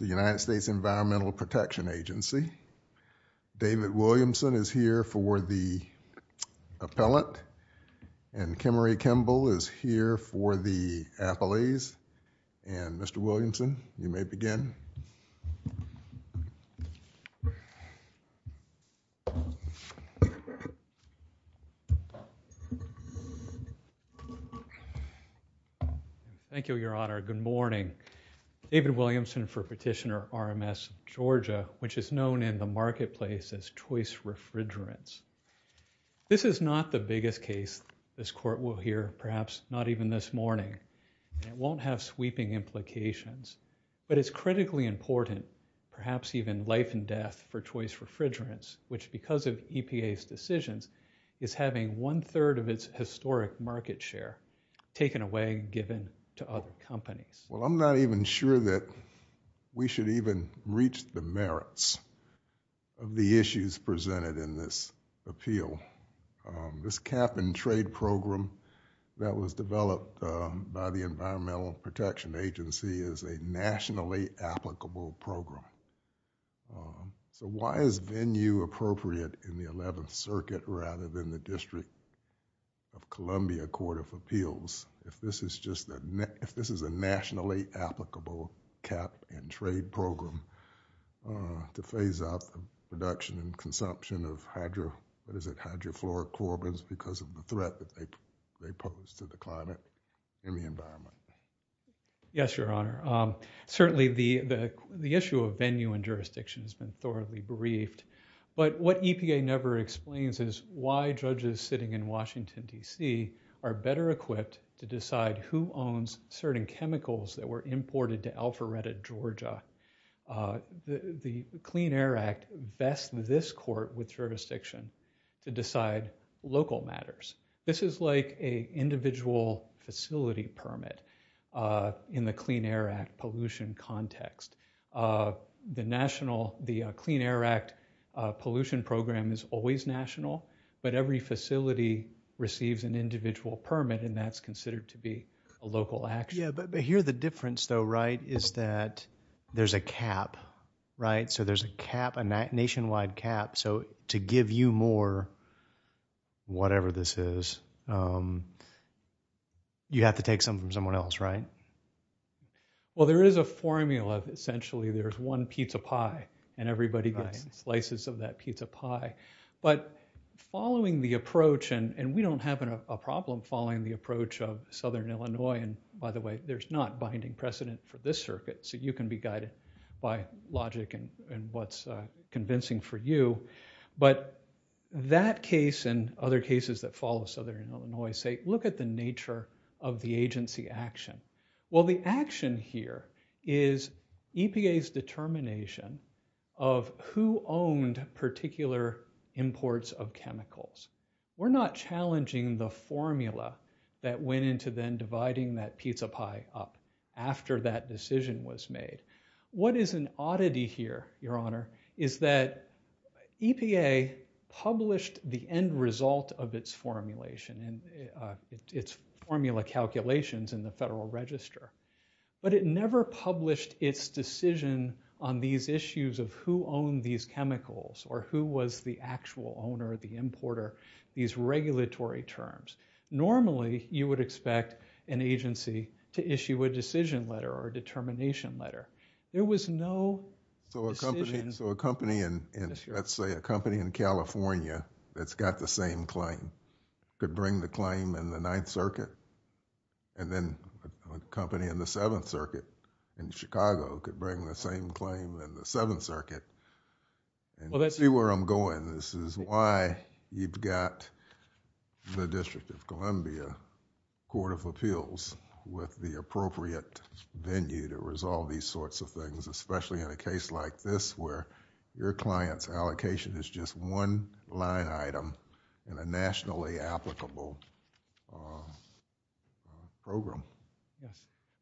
The United States Environmental Protection Agency. David Williamson is here for the appellate and Kimmery Kimball is here for the athletes. And Mr. Williamson, you may begin. Thank you, Your Honor. Good morning. David Williamson for Petitioner RMS of Georgia, which is known in the marketplace as Choice Refrigerants. This is not the biggest case this Court will hear, perhaps not even this morning. It won't have sweeping implications, but it's critically important, perhaps even life and death for Choice Refrigerants, which because of EPA's decisions, is having one-third of its historic market share taken away and given to other companies. Well, I'm not even sure that we should even reach the merits of the issues presented in this appeal. This cap-and-trade program that was developed by the Environmental Protection Agency is a nationally applicable program. Why is venue appropriate in the Eleventh Circuit rather than the District of Columbia Court of Appeals if this is a nationally applicable cap-and-trade program to phase out the production and consumption of hydrofluorocarbons because of the threat they pose to the climate and the environment? Yes, Your Honor. Certainly, the issue of venue and jurisdiction has been thoroughly briefed, but what EPA never explains is why judges sitting in Washington, D.C. are better equipped to decide who owns certain chemicals that were imported to Alpharetta, Georgia. The Clean Air Act bests this Court with jurisdiction to decide local matters. This is like an individual facility permit in the Clean Air Act pollution context. The Clean Air Act pollution program is always national, but every facility receives an individual permit, and that's considered to be a local action. Yeah, but here the difference, though, right, is that there's a cap, right? So there's a nationwide cap. So to give you more, whatever this is, you have to take some from someone else, right? Well, there is a formula. Essentially, there's one pizza pie, and everybody gets slices of that pizza pie, but following the approach, and we don't have a problem following the approach of Southern Illinois, and by the way, there's not binding precedent for this circuit, so you can guide it by logic and what's convincing for you, but that case and other cases that follow Southern Illinois say, look at the nature of the agency action. Well, the action here is EPA's determination of who owned particular imports of chemicals. We're not challenging the formula that went into then dividing that pizza pie up after that decision was made. What is an oddity here, Your Honor, is that EPA published the end result of its formulation, its formula calculations in the Federal Register, but it never published its decision on these issues of who owned these chemicals. Normally, you would expect an agency to issue a decision letter or a determination letter. There was no decision. So a company in, let's say a company in California that's got the same claim could bring the claim in the Ninth Circuit, and then a company in the Seventh Circuit in Chicago could bring the same claim in the Seventh Circuit, and see where I'm going. This is why you've got the District of Columbia Court of Appeals with the appropriate venue to resolve these sorts of things, especially in a case like this where your client's allocation is just one line item in a nationally applicable program.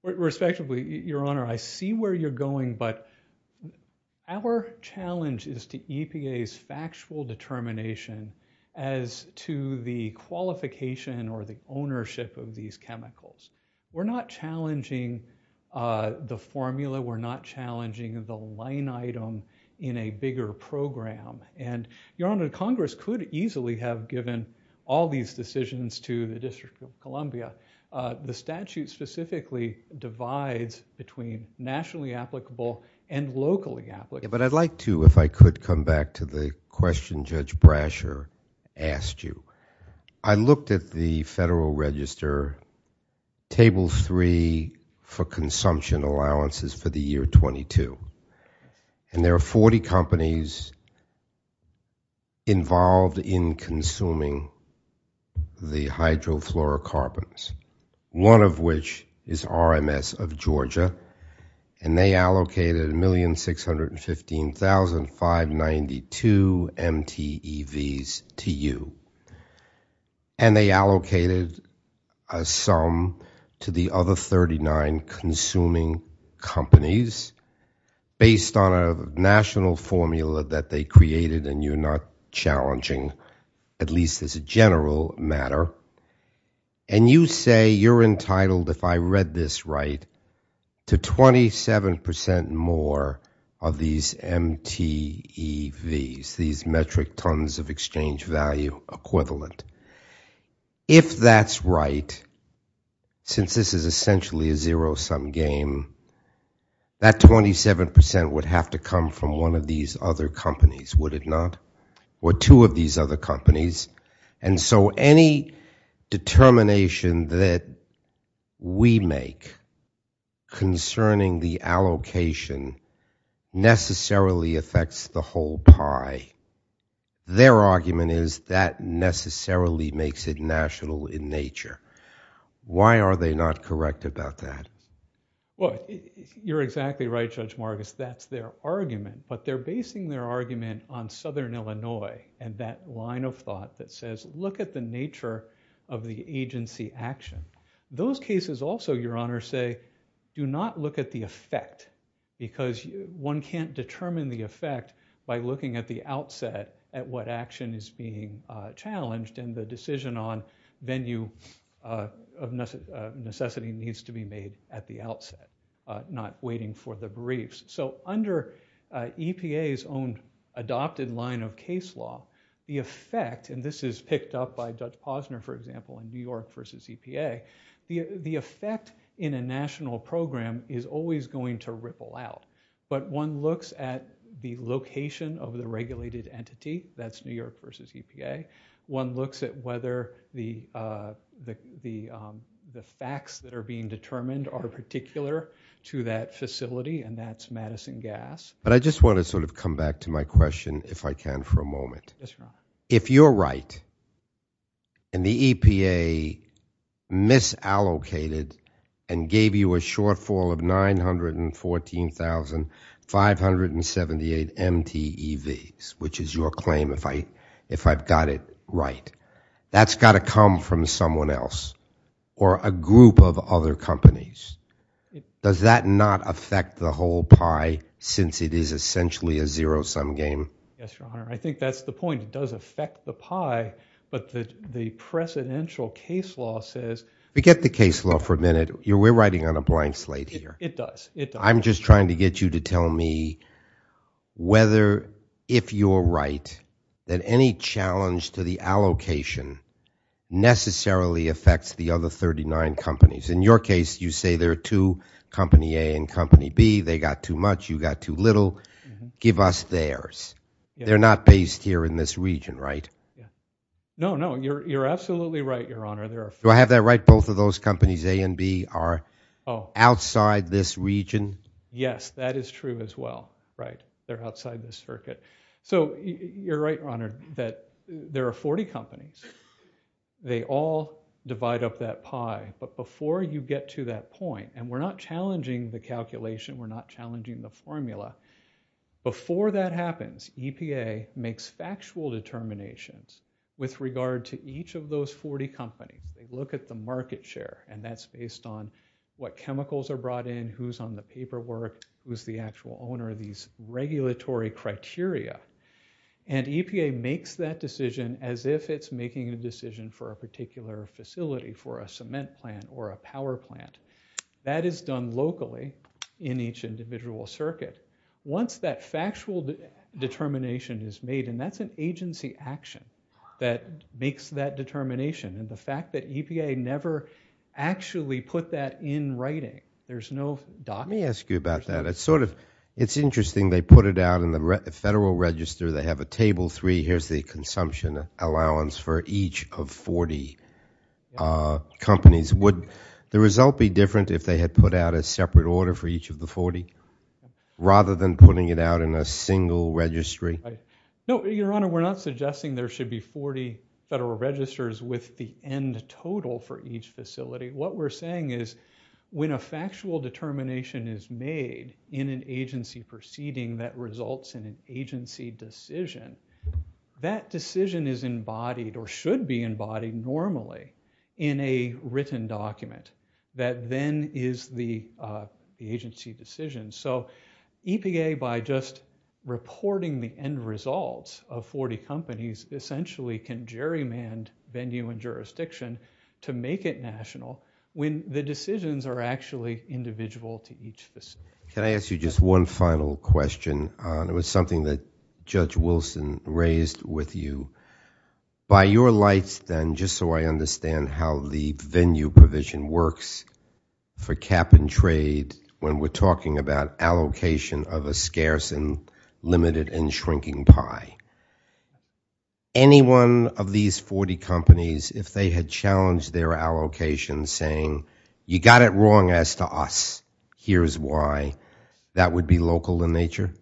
Respectively, Your Honor, I see where you're going, but our challenge is to EPA's factual determination as to the qualification or the ownership of these chemicals. We're not challenging the formula. We're not challenging the line item in a bigger program, and Your Honor, Congress could easily have given all these decisions to the District of Columbia. The statute specifically divides between nationally applicable and locally applicable. But I'd like to, if I could, come back to the question Judge Brasher asked you. I looked at the Federal Register Table 3 for consumption allowances for the year 22, and there are 40 companies involved in consuming the hydrofluorocarbons, one of which is RMS of Georgia, and they allocated 1,615,592 MTEVs to you, and they allocated a sum to the other 39 consuming companies based on a national formula that they created, and you're not challenging, at least as a general matter, and you say you're entitled, if I read this right, to 27 percent more of these MTEVs, these metric tons of exchange value equivalent. If that's right, since this is essentially a zero-sum game, that 27 percent would have to come from one of these other companies, would it not, or two of these other we make concerning the allocation necessarily affects the whole pie? Their argument is that necessarily makes it national in nature. Why are they not correct about that? Well, you're exactly right, Judge Marcus. That's their argument, but they're basing their argument on Southern Illinois and that line of thought that says, look at the nature of the agency action. Those cases also, Your Honor, say, do not look at the effect, because one can't determine the effect by looking at the outset at what action is being challenged, and the decision on venue of necessity needs to be made at the outset, not waiting for the briefs. Under EPA's own adopted line of case law, the effect, and this is picked up by Judge Posner, for example, in New York v. EPA, the effect in a national program is always going to ripple out, but one looks at the location of the regulated entity, that's New York v. EPA, one looks at the facts that are being determined are particular to that facility, and that's Madison Gas. But I just want to sort of come back to my question, if I can, for a moment. If you're right, and the EPA misallocated and gave you a shortfall of 914,578 MTEVs, which is your claim, if I've got it right, that's got to come from someone else, or a group of other companies. Does that not affect the whole pie, since it is essentially a zero-sum game? Yes, Your Honor. I think that's the point. It does affect the pie, but the precedential case law says... Forget the case law for a minute. We're writing on a blank slate here. It does. It does. I'm just trying to get you to tell me whether, if you're right, that any challenge to the allocation necessarily affects the other 39 companies. In your case, you say there are two, Company A and Company B, they got too much, you got too little, give us theirs. They're not based here in this region, right? No, no, you're absolutely right, Your Honor. Do I have that right, both of those companies, A and B, are outside this region? Yes, that is true as well, right? They're outside this circuit. So you're right, Your Honor, that there are 40 companies. They all divide up that pie, but before you get to that point, and we're not challenging the calculation, we're not challenging the formula, before that happens, EPA makes factual determinations with regard to each of those 40 companies. They look at the market share, and that's based on what chemicals are brought in, who's on the paperwork, who's the actual owner, these regulatory criteria, and EPA makes that decision as if it's making a decision for a particular facility, for a cement plant or a power plant. That is done locally in each individual circuit. Once that factual determination is made, that's an agency action that makes that determination, and the fact that EPA never actually put that in writing, there's no document. Let me ask you about that. It's sort of, it's interesting, they put it out in the federal register, they have a table three, here's the consumption allowance for each of 40 companies. Would the result be different if they had put out a separate order for each of the 40, rather than putting it out in a single registry? No, your honor, we're not suggesting there should be 40 federal registers with the end total for each facility. What we're saying is, when a factual determination is made in an agency proceeding that results in an agency decision, that decision is embodied or should be embodied normally in a written document that then is the agency decision. So EPA, by just reporting the end results of 40 companies, essentially can gerrymand venue and jurisdiction to make it national when the decisions are actually individual to each facility. Can I ask you just one final question? It was something that Judge Wilson raised with you. By your lights then, just so I understand how the venue provision works for cap and trade when we're talking about allocation of a scarce and limited and shrinking pie. Anyone of these 40 companies, if they had challenged their allocation saying, you got it wrong as to us, here's why, that would be local in nature?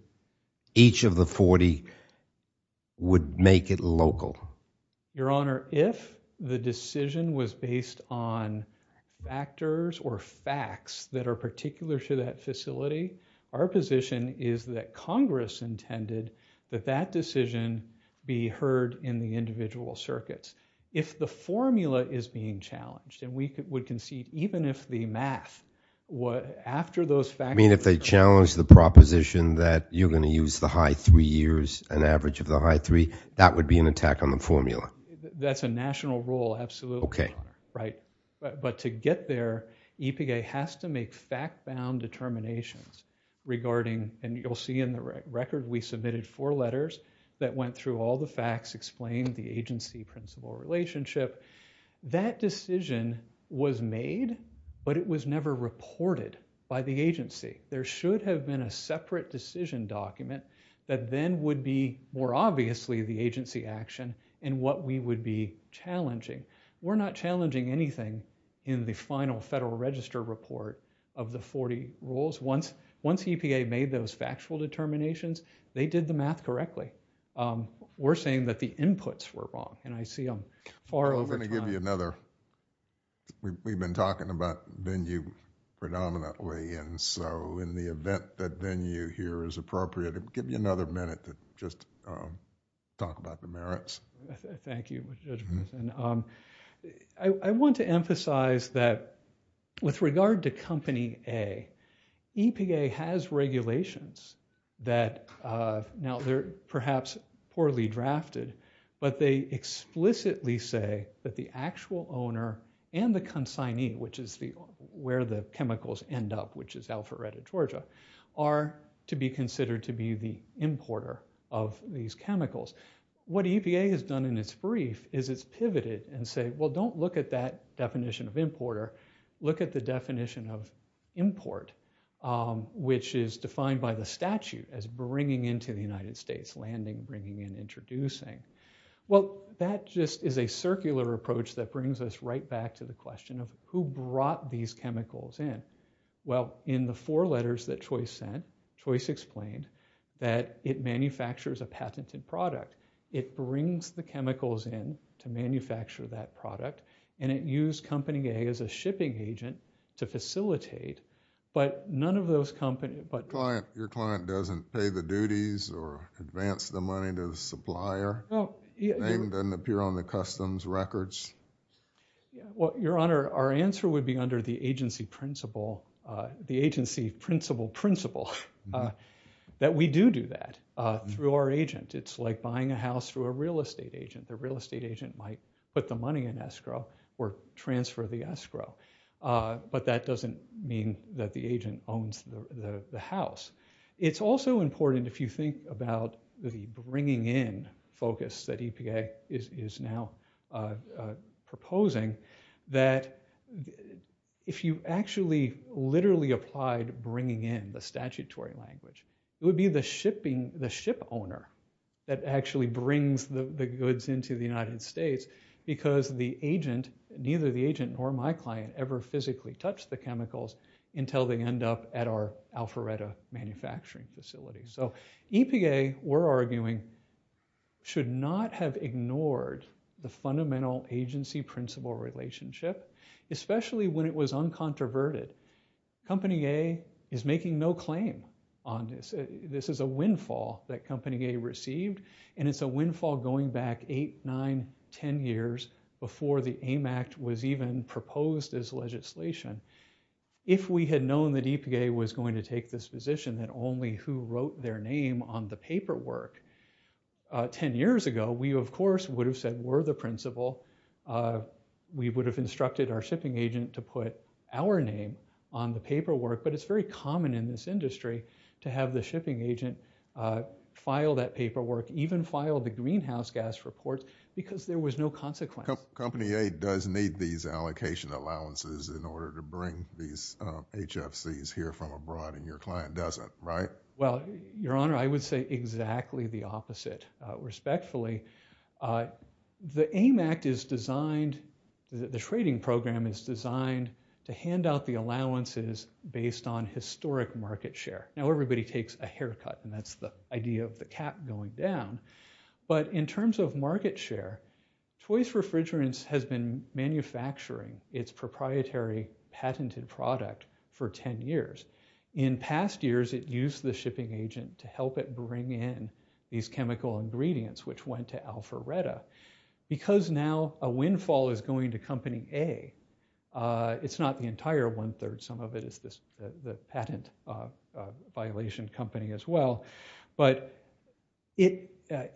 Each of the 40 would make it local? Your honor, if the decision was based on factors or facts that are particular to that facility, our position is that Congress intended that that decision be heard in the even if the math, after those factors. You mean if they challenged the proposition that you're going to use the high three years, an average of the high three, that would be an attack on the formula? That's a national rule, absolutely. Okay. Right. But to get there, EPA has to make fact-bound determinations regarding, and you'll see in the record we submitted four letters that went through all the facts, explained the agency-principal relationship. That decision was made, but it was never reported by the agency. There should have been a separate decision document that then would be more obviously the agency action and what we would be challenging. We're not challenging anything in the final Federal Register report of the 40 rules. Once EPA made those factual determinations, they did the math correctly. We're saying that the inputs were wrong, and I see them far over time. We've been talking about venue predominantly, and so in the event that venue here is appropriate, I'll give you another minute to just talk about the merits. Thank you. I want to emphasize that with regard to Company A, EPA has regulations that, now they're perhaps poorly drafted, but they explicitly say that the actual owner and the consignee, which is where the chemicals end up, which is Alpharetta, Georgia, are to be considered to be the importer of these chemicals. What EPA has done in its brief is it's which is defined by the statute as bringing into the United States, landing, bringing, and introducing. Well, that just is a circular approach that brings us right back to the question of who brought these chemicals in. Well, in the four letters that Choice sent, Choice explained that it manufactures a patented product. It brings the chemicals in to manufacture that product, and it used Company A as a shipping agent to facilitate, but none of those companies, but Client, your client doesn't pay the duties or advance the money to the supplier? Name doesn't appear on the customs records? Well, Your Honor, our answer would be under the agency principle, the agency principle principle, that we do do that through our agent. It's like buying a house through a real estate agent. The real estate agent might put the money in escrow or transfer the escrow, but that doesn't mean that the agent owns the house. It's also important, if you think about the bringing in focus that EPA is now proposing, that if you actually literally applied bringing in the statutory language, it would be the shipping, the ship owner that actually brings the goods into the United States, because the agent, neither the agent nor my client ever physically touched the chemicals until they end up at our Alpharetta manufacturing facility. So EPA, we're arguing, should not have ignored the fundamental agency principle relationship, especially when it was uncontroverted. Company A is making no claim on this. This is a windfall that Company A received, and it's a windfall going back 8, 9, 10 years before the AIM Act was even proposed as legislation. If we had known that EPA was going to take this position, then only who wrote their name on the paperwork 10 years ago, we of course would have said we're the principal. We would have instructed our name on the paperwork, but it's very common in this industry to have the shipping agent file that paperwork, even file the greenhouse gas report, because there was no consequence. Company A does need these allocation allowances in order to bring these HFCs here from abroad, and your client doesn't, right? Well, your honor, I would say exactly the opposite, respectfully. The AIM Act is designed, the trading program is designed to hand out the allowances based on historic market share. Now everybody takes a haircut, and that's the idea of the cap going down, but in terms of market share, Choice Refrigerants has been manufacturing its proprietary patented product for 10 years. In past years, it used the shipping agent to help it bring in these chemical ingredients, which went to Alpharetta. Because now a windfall is going to Company A, it's not the entire one-third. Some of it is the patent violation company as well, but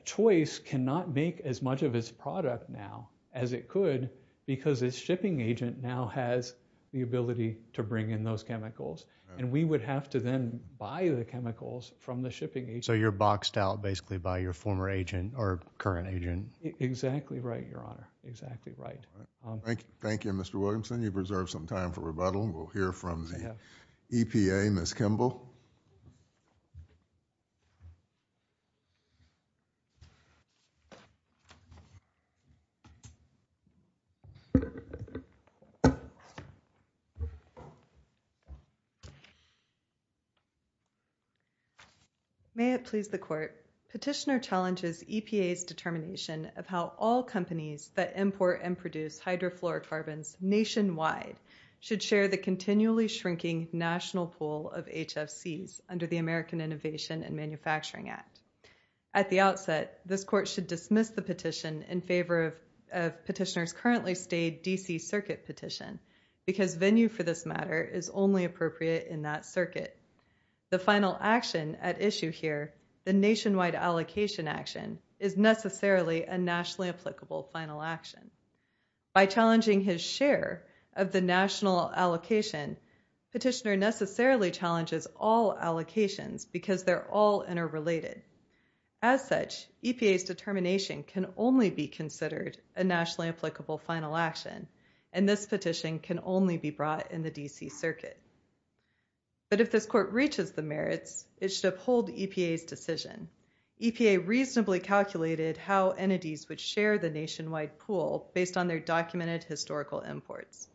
Choice cannot make as much of its product now as it could because its shipping agent now has the ability to bring in those chemicals, and we would have to then buy the chemicals from the former agent or current agent. Exactly right, your honor. Exactly right. Thank you, Mr. Williamson. You've reserved some time for rebuttal. We'll hear from the EPA. Ms. Petitioner challenges EPA's determination of how all companies that import and produce hydrofluorocarbons nationwide should share the continually shrinking national pool of HFCs under the American Innovation and Manufacturing Act. At the outset, this court should dismiss the petition in favor of petitioner's currently stayed D.C. circuit petition because venue for this matter is only appropriate in that circuit. The final action at issue here, the nationwide allocation action, is necessarily a nationally applicable final action. By challenging his share of the national allocation, petitioner necessarily challenges all allocations because they're all interrelated. As such, EPA's determination can only be considered a nationally applicable final action, and this petition can only be brought in the D.C. circuit. But if this court reaches the merits, it should uphold EPA's decision. EPA reasonably calculated how entities would share the nationwide pool based on their documented historical imports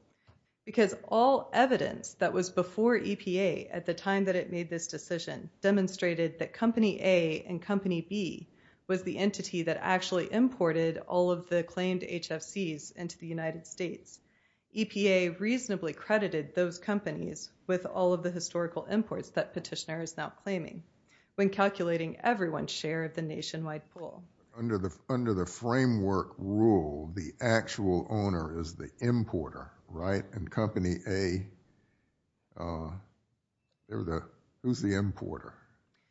because all evidence that was before EPA at the time that it made this decision demonstrated that to the United States. EPA reasonably credited those companies with all of the historical imports that petitioner is now claiming when calculating everyone's share of the nationwide pool. Under the framework rule, the actual owner is the importer, right? And company A, who's the importer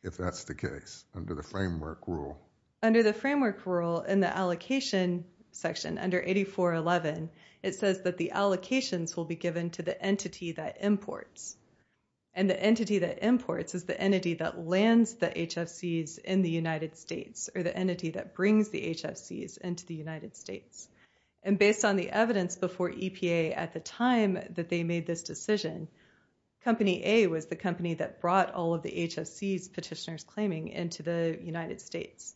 if that's the case under the framework rule? Under the framework rule in the allocation section, under 8411, it says that the allocations will be given to the entity that imports. And the entity that imports is the entity that lands the HFCs in the United States or the entity that brings the HFCs into the United States. And based on the evidence before EPA at the time that they made this decision, company A was the company that into the United States.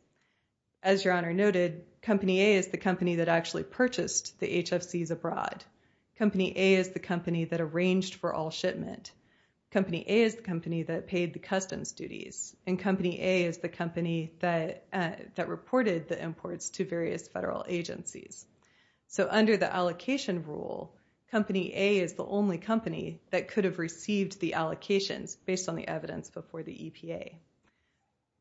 As your honor noted, company A is the company that actually purchased the HFCs abroad. Company A is the company that arranged for all shipment. Company A is the company that paid the customs duties. And company A is the company that reported the imports to various federal agencies. So under the allocation rule, company A is the only company that could have received the allocations based on the evidence before the EPA.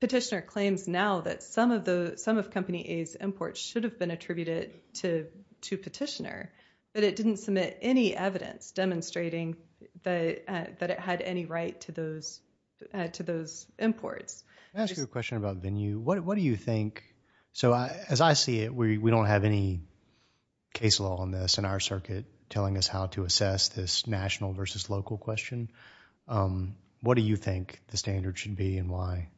Petitioner claims now that some of company A's imports should have been attributed to Petitioner, but it didn't submit any evidence demonstrating that it had any right to those imports. Can I ask you a question about venue? What do you think? So as I see it, we don't have any case law on this in our circuit telling us how to assess this national versus local question. What do you think the standard should be and why?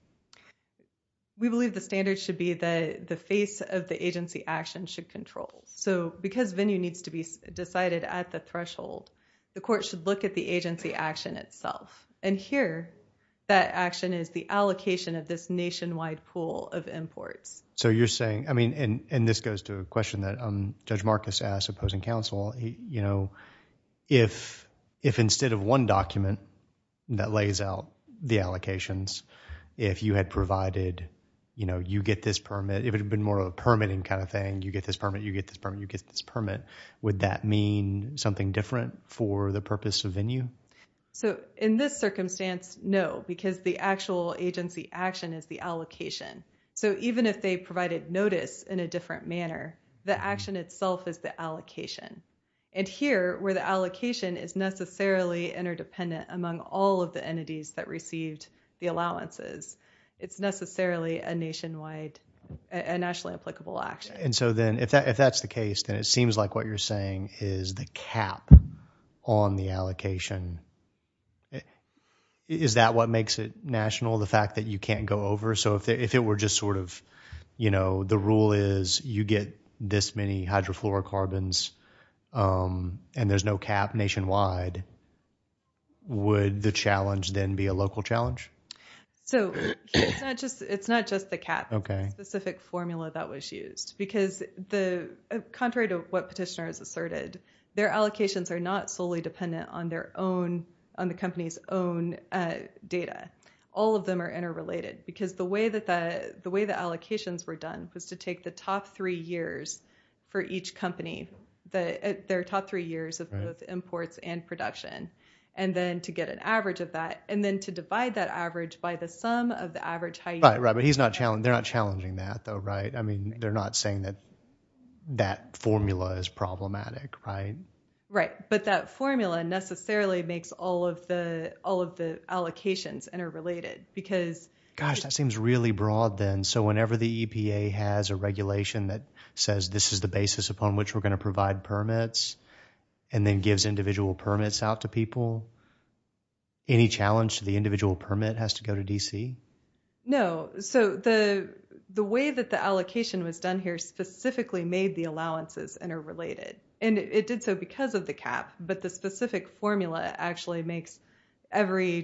We believe the standard should be that the face of the agency action should control. So because venue needs to be decided at the threshold, the court should look at the agency action itself. And here, that action is the allocation of this Judge Marcus asked opposing counsel, you know, if instead of one document that lays out the allocations, if you had provided, you know, you get this permit, if it had been more of a permitting kind of thing, you get this permit, you get this permit, you get this permit, would that mean something different for the purpose of venue? So in this circumstance, no, because the actual agency action is the allocation. So even if they provided notice in a different manner, the action itself is the allocation. And here, where the allocation is necessarily interdependent among all of the entities that received the allowances, it's necessarily a nationwide, a nationally applicable action. And so then if that's the case, then it seems like what you're saying is the cap on the allocation. Is that what makes it national, the fact that you can't go over? So if it were just sort of, you know, the rule is you get this many hydrofluorocarbons and there's no cap nationwide, would the challenge then be a local challenge? So it's not just the cap. Okay. The specific formula that was used, because the contrary to what petitioner has asserted, their allocations are not solely dependent on their own, on the company's own data. All of them are interrelated, because the way that allocations were done was to take the top three years for each company, their top three years of both imports and production, and then to get an average of that, and then to divide that average by the sum of the average high yield. Right, right. But they're not challenging that though, right? I mean, they're not saying that that formula is problematic, right? Right. But that formula necessarily makes all of the allocations interrelated, because- Gosh, that seems really broad then. So whenever the EPA has a regulation that says this is the basis upon which we're going to provide permits, and then gives individual permits out to people, any challenge to the individual permit has to go to DC? No. So the way that the allocation was done here specifically made the allowances interrelated. And it did so because of the cap, but the specific formula actually makes every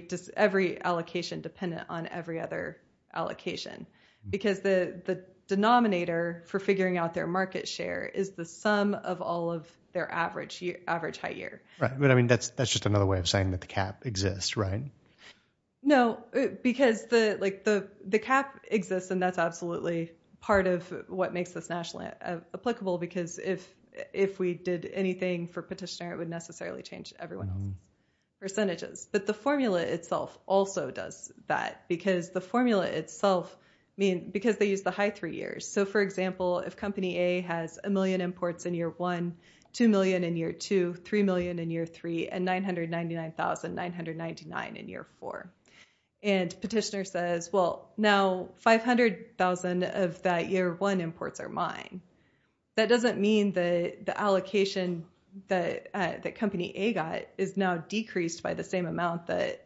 allocation dependent on every other allocation, because the denominator for figuring out their market share is the sum of all of their average high year. Right. But I mean, that's just another way of saying that the cap exists, right? No, because the cap exists, and that's absolutely part of what makes this nationally applicable, because if we did anything for petitioner, it would necessarily change everyone's percentages. But the formula itself also does that, because the formula itself, I mean, because they use the high three years. So for example, if company A has a million imports in year one, 2 million in year two, 3 million in year three, and 999,999 in year four. And petitioner says, well, now 500,000 of that year one imports are mine. That doesn't mean that the allocation that company A got is now decreased by the same amount that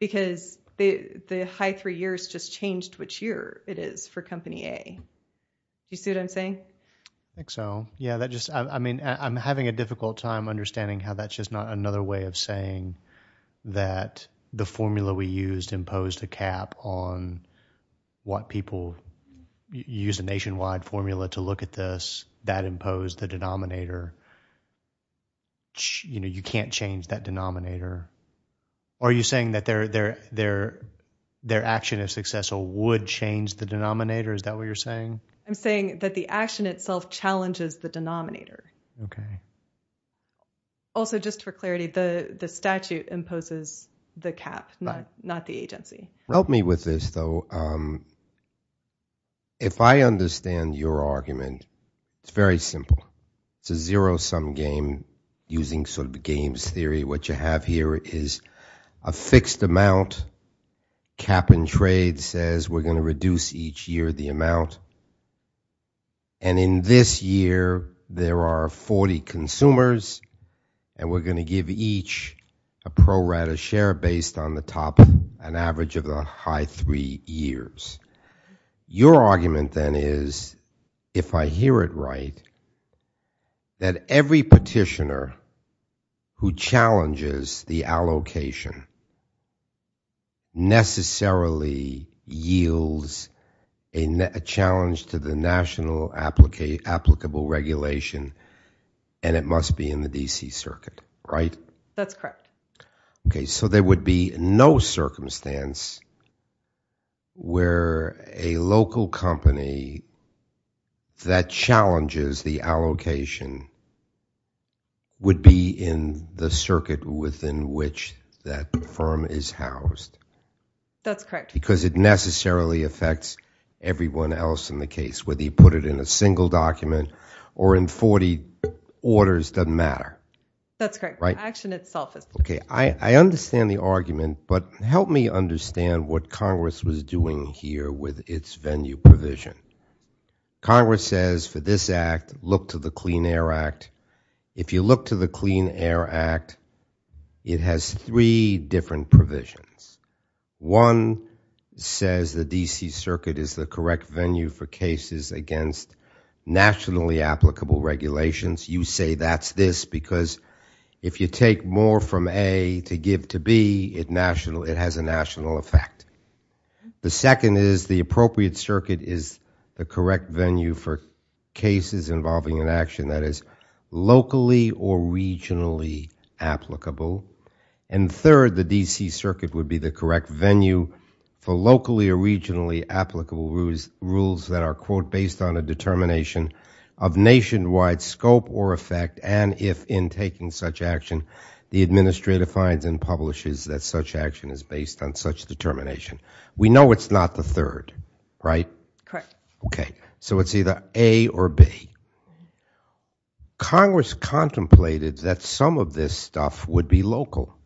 because the high three years just changed which year it is for company A. You see what I'm saying? I think so. Yeah, that just, I mean, I'm having a difficult time understanding how that's just not another way of saying that the formula we used imposed a cap on what people use a nationwide formula to look at this, that imposed the denominator. You know, you can't change that Are you saying that their action of success would change the denominator? Is that what you're saying? I'm saying that the action itself challenges the denominator. Okay. Also, just for clarity, the statute imposes the cap, not the agency. Help me with this though. If I understand your argument, it's very simple. It's a zero-sum game using sort of the games theory. What you have here is a fixed amount, cap and trade says we're going to reduce each year the amount. And in this year, there are 40 consumers and we're going to give each a pro rata share based on the top, an average of the high three years. Your argument then is, if I hear it right, that every petitioner who challenges the allocation necessarily yields a challenge to the national applicable regulation and it must be in the DC circuit, right? That's correct. Okay. So there would be no circumstance where a local company that challenges the allocation would be in the circuit within which that firm is housed. That's correct. Because it necessarily affects everyone else in the case, whether you put it in a single document or in 40 orders, doesn't matter. That's correct. Action itself. Okay. I understand the argument, but help me understand what Congress was doing here with its venue provision. Congress says for this act, look to the Clean Air Act. If you look to the Clean Air Act, it has three different provisions. One says the DC circuit is the correct venue for cases against nationally applicable regulations. You say that's this because if you take more from A to give to B, it has a national effect. The second is the appropriate circuit is the correct venue for cases involving an action that is locally or regionally applicable. And third, the DC circuit would be the correct venue for locally or regionally applicable rules that are quote, based on a determination of nationwide scope or effect. And if in taking such action, the administrator finds and publishes that such action is based on such determination. We know it's not the third, right? Correct. Okay. So it's either A or B. Congress contemplated that some of this stuff would be local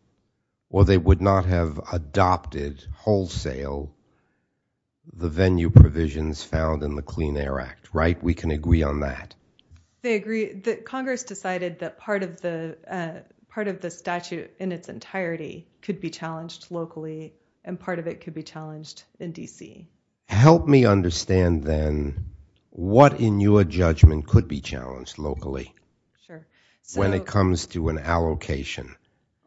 or they would not have adopted wholesale the venue provisions found in the Clean Air Act, right? We can agree on that. They agree that Congress decided that part of the statute in its entirety could be challenged locally and part of it could be challenged in DC. Help me understand then what in your judgment could be challenged locally when it comes to an allocation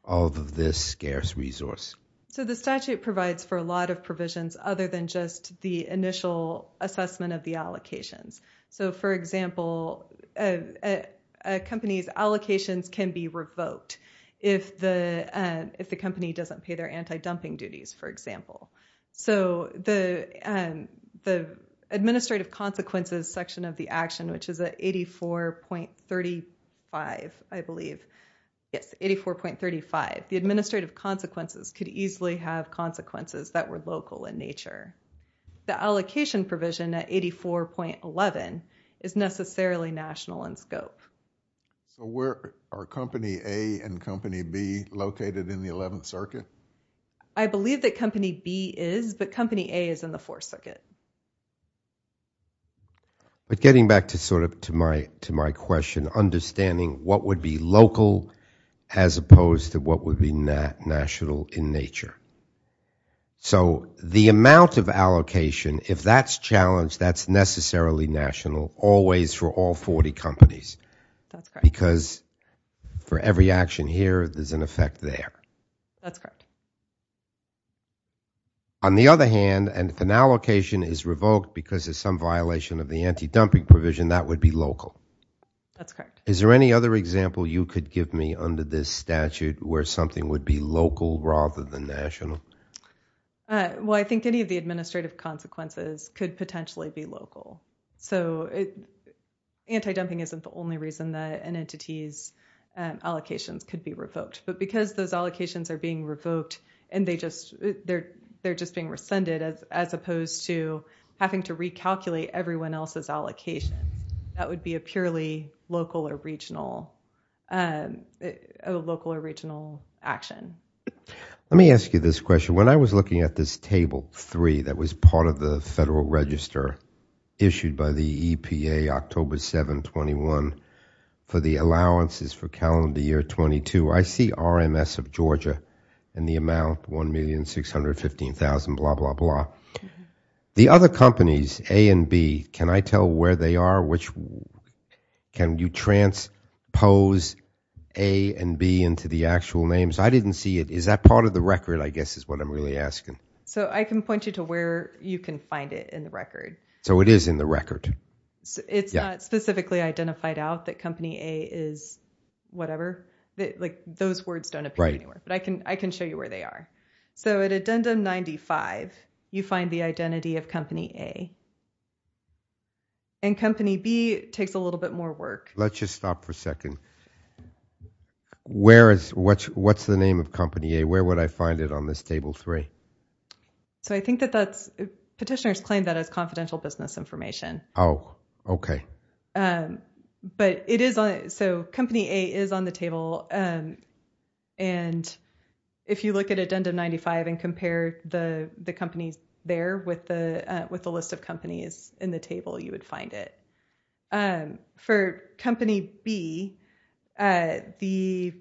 of this scarce resource. So the statute provides for a lot of provisions other than just the initial assessment of the a company's allocations can be revoked if the company doesn't pay their anti-dumping duties, for example. So the administrative consequences section of the action, which is at 84.35, I believe. Yes, 84.35. The administrative consequences could easily have consequences that were local in nature. The allocation provision at 84.11 is necessarily national in scope. So where are Company A and Company B located in the 11th Circuit? I believe that Company B is, but Company A is in the 4th Circuit. But getting back to sort of to my question, understanding what would be local as opposed to what would be national in nature. So the amount of allocation, if that's challenged, that's necessarily national always for all 40 companies. That's correct. Because for every action here, there's an effect there. That's correct. On the other hand, and if an allocation is revoked because of some violation of the anti-dumping provision, that would be local. That's correct. Is there any other example you could give me under this statute where something would be local rather than national? Well, I think any of the administrative consequences could potentially be local. Anti-dumping isn't the only reason that an entity's allocations could be revoked. But because those allocations are being revoked and they're just being rescinded as opposed to having to recalculate everyone else's allocation, that would be a purely local or regional action. Let me ask you this question. When I was looking at this Table 3 that was part of the Federal Register issued by the EPA October 7, 21, for the allowances for calendar year 22, I see RMS of Georgia and the amount $1,615,000, blah, blah, blah. The other companies, A and B, can I pose A and B into the actual names? I didn't see it. Is that part of the record, I guess, is what I'm really asking. So I can point you to where you can find it in the record. So it is in the record. It's not specifically identified out that Company A is whatever. Those words don't appear anywhere. But I can show you where they are. So at Addendum 95, you find the identity of Company A. And Company B takes a little bit more work. Let's just stop for a second. What's the name of Company A? Where would I find it on this Table 3? Petitioners claim that as confidential business information. But Company A is on the table. And if you look at Addendum 95 and compare the companies there with the list of companies in the table, you would find it. For Company B, the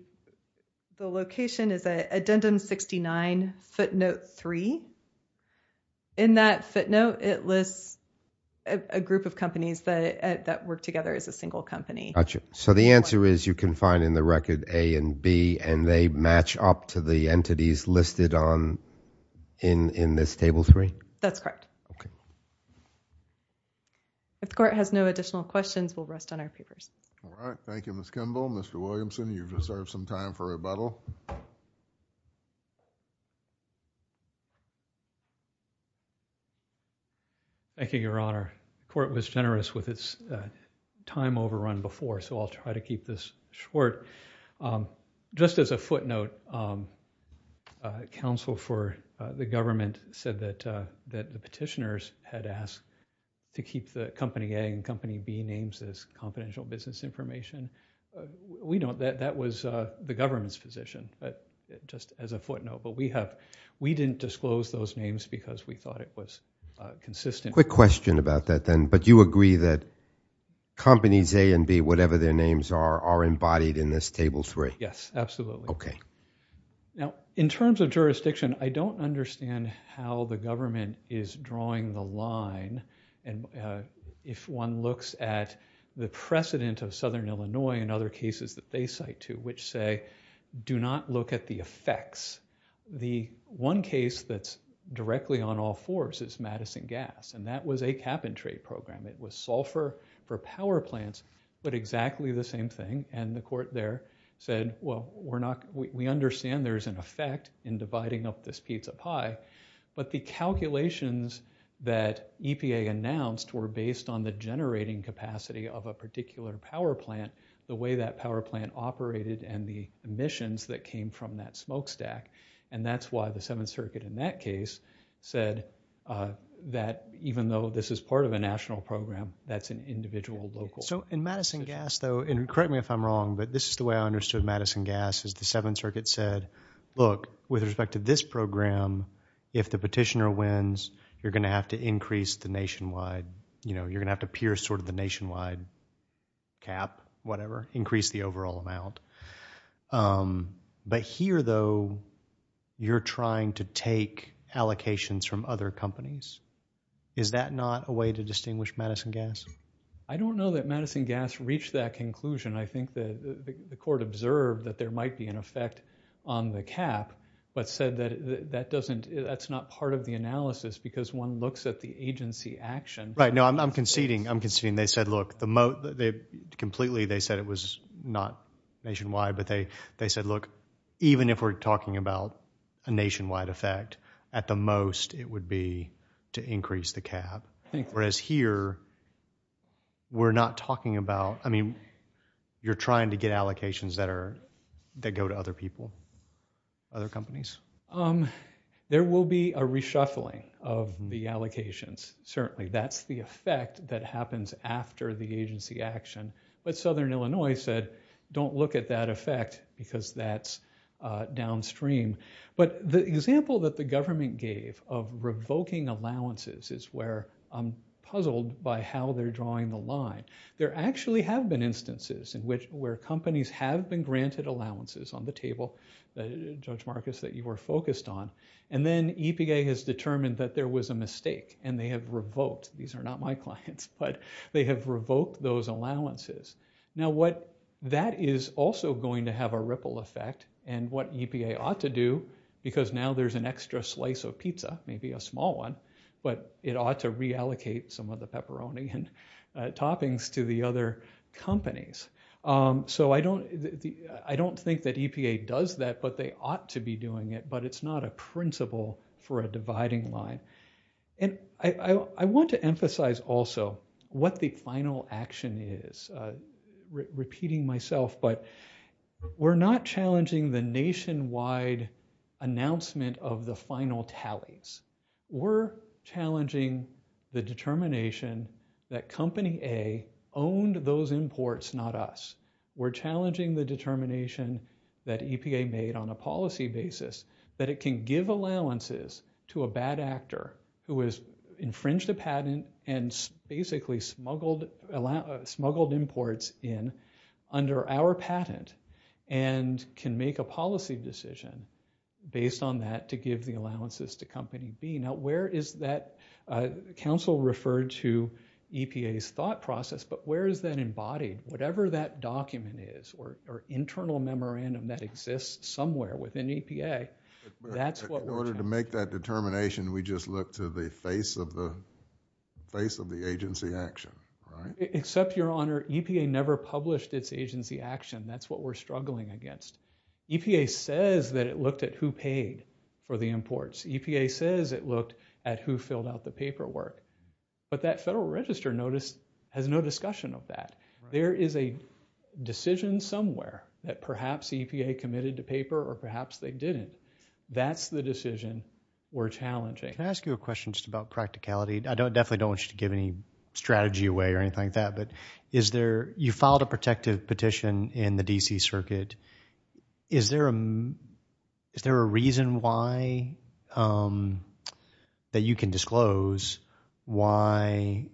location is Addendum 69, footnote 3. In that footnote, it lists a group of companies that work together as a single company. So the answer is you can find in the record A and B, and they match up to the entities listed in this Table 3? That's correct. If the Court has no additional questions, we'll rest on our papers. All right. Thank you, Ms. Kimball. Mr. Williamson, you've reserved some time for rebuttal. Thank you, Your Honor. The Court was generous with its time overrun before, so I'll try to keep this short. Just as a footnote, the counsel for the government said that the petitioners had asked to keep the Company A and Company B names as confidential business information. That was the government's position, just as a footnote. But we didn't disclose those names because we thought it was consistent. Quick question about that, then. But you agree that Companies A and B, whatever their names are, are embodied in this Table 3? Yes, absolutely. Now, in terms of jurisdiction, I don't understand how the government is drawing the line. And if one looks at the precedent of Southern Illinois and other cases that they cite to, which say, do not look at the effects. The one case that's directly on all fours is Madison Gas, and that was a cap-and-trade program. It was sulfur for power plants, but exactly the same thing. And the Court there said, well, we understand there's an effect in dividing up this pizza pie, but the calculations that EPA announced were based on the generating capacity of a particular power plant, the way that power plant operated, and the emissions that came from that smokestack. And that's why the Seventh Circuit in that case said that even this is part of a national program, that's an individual local. So in Madison Gas, though, and correct me if I'm wrong, but this is the way I understood Madison Gas, is the Seventh Circuit said, look, with respect to this program, if the petitioner wins, you're going to have to increase the nationwide, you know, you're going to have to pierce sort of the nationwide cap, whatever, increase the overall amount. But here, though, you're trying to take allocations from other companies. Is that not a way to distinguish Madison Gas? I don't know that Madison Gas reached that conclusion. I think that the Court observed that there might be an effect on the cap, but said that that doesn't, that's not part of the analysis because one looks at the agency action. Right, no, I'm conceding, I'm conceding. They said, look, the moat, they completely, they said it was not nationwide, but they said, look, even if we're talking about a nationwide effect, at the most, it would be to increase the cap. Whereas here, we're not talking about, I mean, you're trying to get allocations that are, that go to other people, other companies. There will be a reshuffling of the allocations, certainly. That's the effect that happens after the agency action. But Southern Illinois said, don't look at that effect because that's downstream. But the example that the government gave of revoking allowances is where I'm puzzled by how they're drawing the line. There actually have been instances in which, where companies have been granted allowances on the table, Judge Marcus, that you were focused on, and then EPA has determined that there was a mistake, and they have revoked, these are not my clients, but they have revoked those allowances. Now, that is also going to have a ripple effect, and what EPA ought to do, because now there's an extra slice of pizza, maybe a small one, but it ought to reallocate some of the pepperoni and toppings to the other companies. So I don't think that EPA does that, but they ought to be doing it, but it's not a principle for a dividing line. And I want to emphasize also what the final action is. Repeating myself, but we're not challenging the nationwide announcement of the final tallies. We're challenging the determination that Company A owned those imports, not us. We're challenging the determination that EPA made on a policy basis that it can give allowances to a bad actor who has infringed a patent and basically smuggled imports in under our patent and can make a policy decision based on that to give the allowances to Company B. Now, where is that? Council referred to EPA's thought process, but where is that embodied? Whatever that document is, or internal memorandum that exists somewhere within EPA, that's what we're... In order to make that determination, we just look to the face of the agency action, right? Except, Your Honor, EPA never published its agency action. That's what we're struggling against. EPA says that it looked at who paid for the imports. EPA says it looked at who filled out the paperwork, but that Federal Register has no discussion of that. There is a decision somewhere that perhaps EPA committed to paper, or perhaps they didn't. That's the decision we're challenging. Can I ask you a question just about practicality? I definitely don't want you to give any strategy away or anything like that, but you filed a protective petition in the D.C. Circuit. Is there a reason why that you can disclose why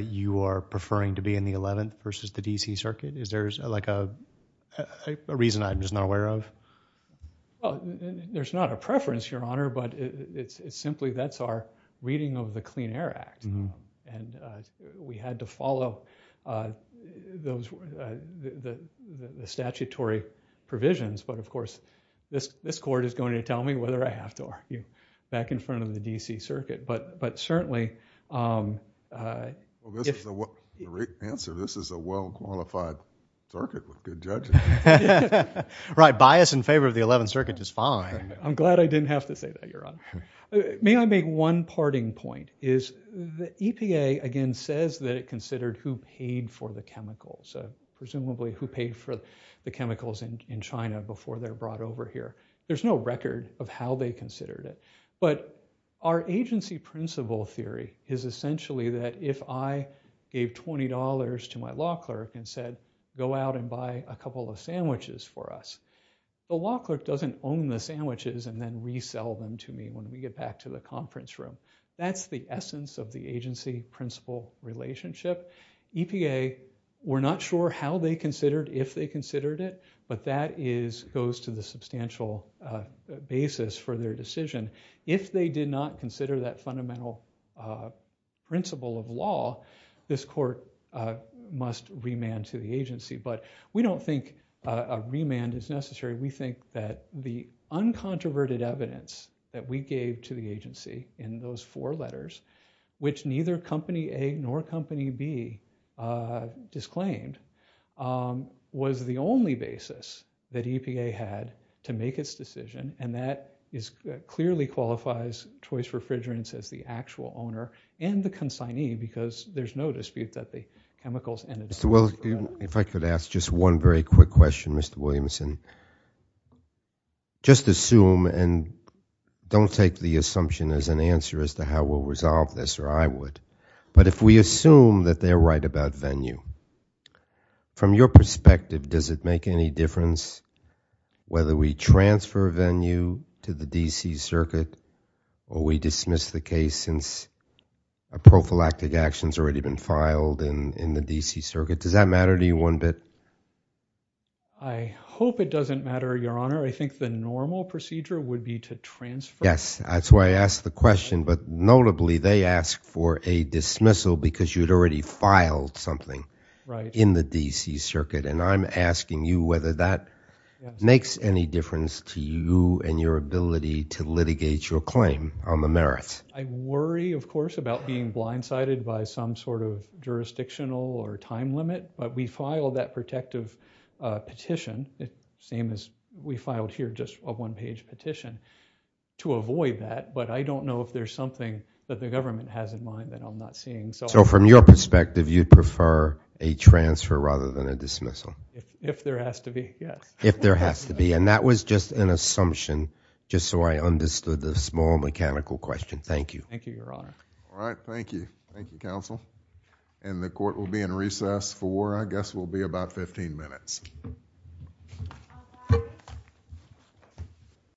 you are preferring to be in the 11th versus the D.C. Circuit? Is there like a reason I'm just not aware of? There's not a preference, Your Honor, but it's simply that's our reading of the Clean Air Act. We had to follow the statutory provisions, but of course, this Court is going to tell me whether I have to argue back in front of the D.C. Circuit, but certainly... The right answer, this is a well-qualified circuit with good judges. Right, bias in favor of the 11th Circuit is fine. I'm glad I didn't have to say that, Your Honor. May I make one parting point? The EPA, again, says that it considered who paid for the chemicals, presumably who paid for the chemicals in China before they're brought over here. There's no record of how they considered it, but our agency principle theory is essentially that if I gave $20 to my law clerk and said, go out and buy a couple of sandwiches for us, the law clerk doesn't own the sandwiches and then resell them to me when we get back to the conference room. That's the essence of the agency principle relationship. EPA, we're not sure how they considered, if they considered it, but that goes to the substantial basis for their decision. If they did not consider that fundamental principle of law, this Court must remand to the agency, but we don't think a remand is necessary. We think that the uncontroverted evidence that we gave to the agency in those four letters, which neither Company A nor Company B disclaimed, was the only basis that EPA had to make its decision, and that clearly qualifies Choice Refrigerants as the actual owner and the consignee, because there's no dispute that the chemicals and the... Well, if I could ask just one very quick question, Mr. Williamson. Just assume, and don't take the assumption as an answer as to how we'll resolve this, or I would, but if we assume that they're right about venue, from your perspective, does it make any difference whether we transfer venue to the D.C. Circuit or we dismiss the case since a prophylactic action's already been filed in the D.C. Circuit? Does that matter to you one bit? I hope it doesn't matter, Your Honor. I think the normal procedure would be to transfer... Yes, that's why I asked the question, but notably they ask for a dismissal because you'd already filed something in the D.C. Circuit, and I'm asking you whether that makes any difference to you and your ability to litigate your claim on the merits. I worry, of course, about being blindsided by some sort of jurisdictional or time limit, but we filed that protective petition, the same as we filed here, just a one-page petition, to avoid that, but I don't know if there's something that the government has in mind that I'm not seeing. So from your perspective, you'd prefer a transfer rather than a dismissal? If there has to be, yes. If there has to be, and that was just an assumption, just so I understood the small mechanical question. Thank you. Thank you, Your Honor. All right, thank you. Thank you, counsel, and the court will be in recess for, I guess, will be about 15 minutes.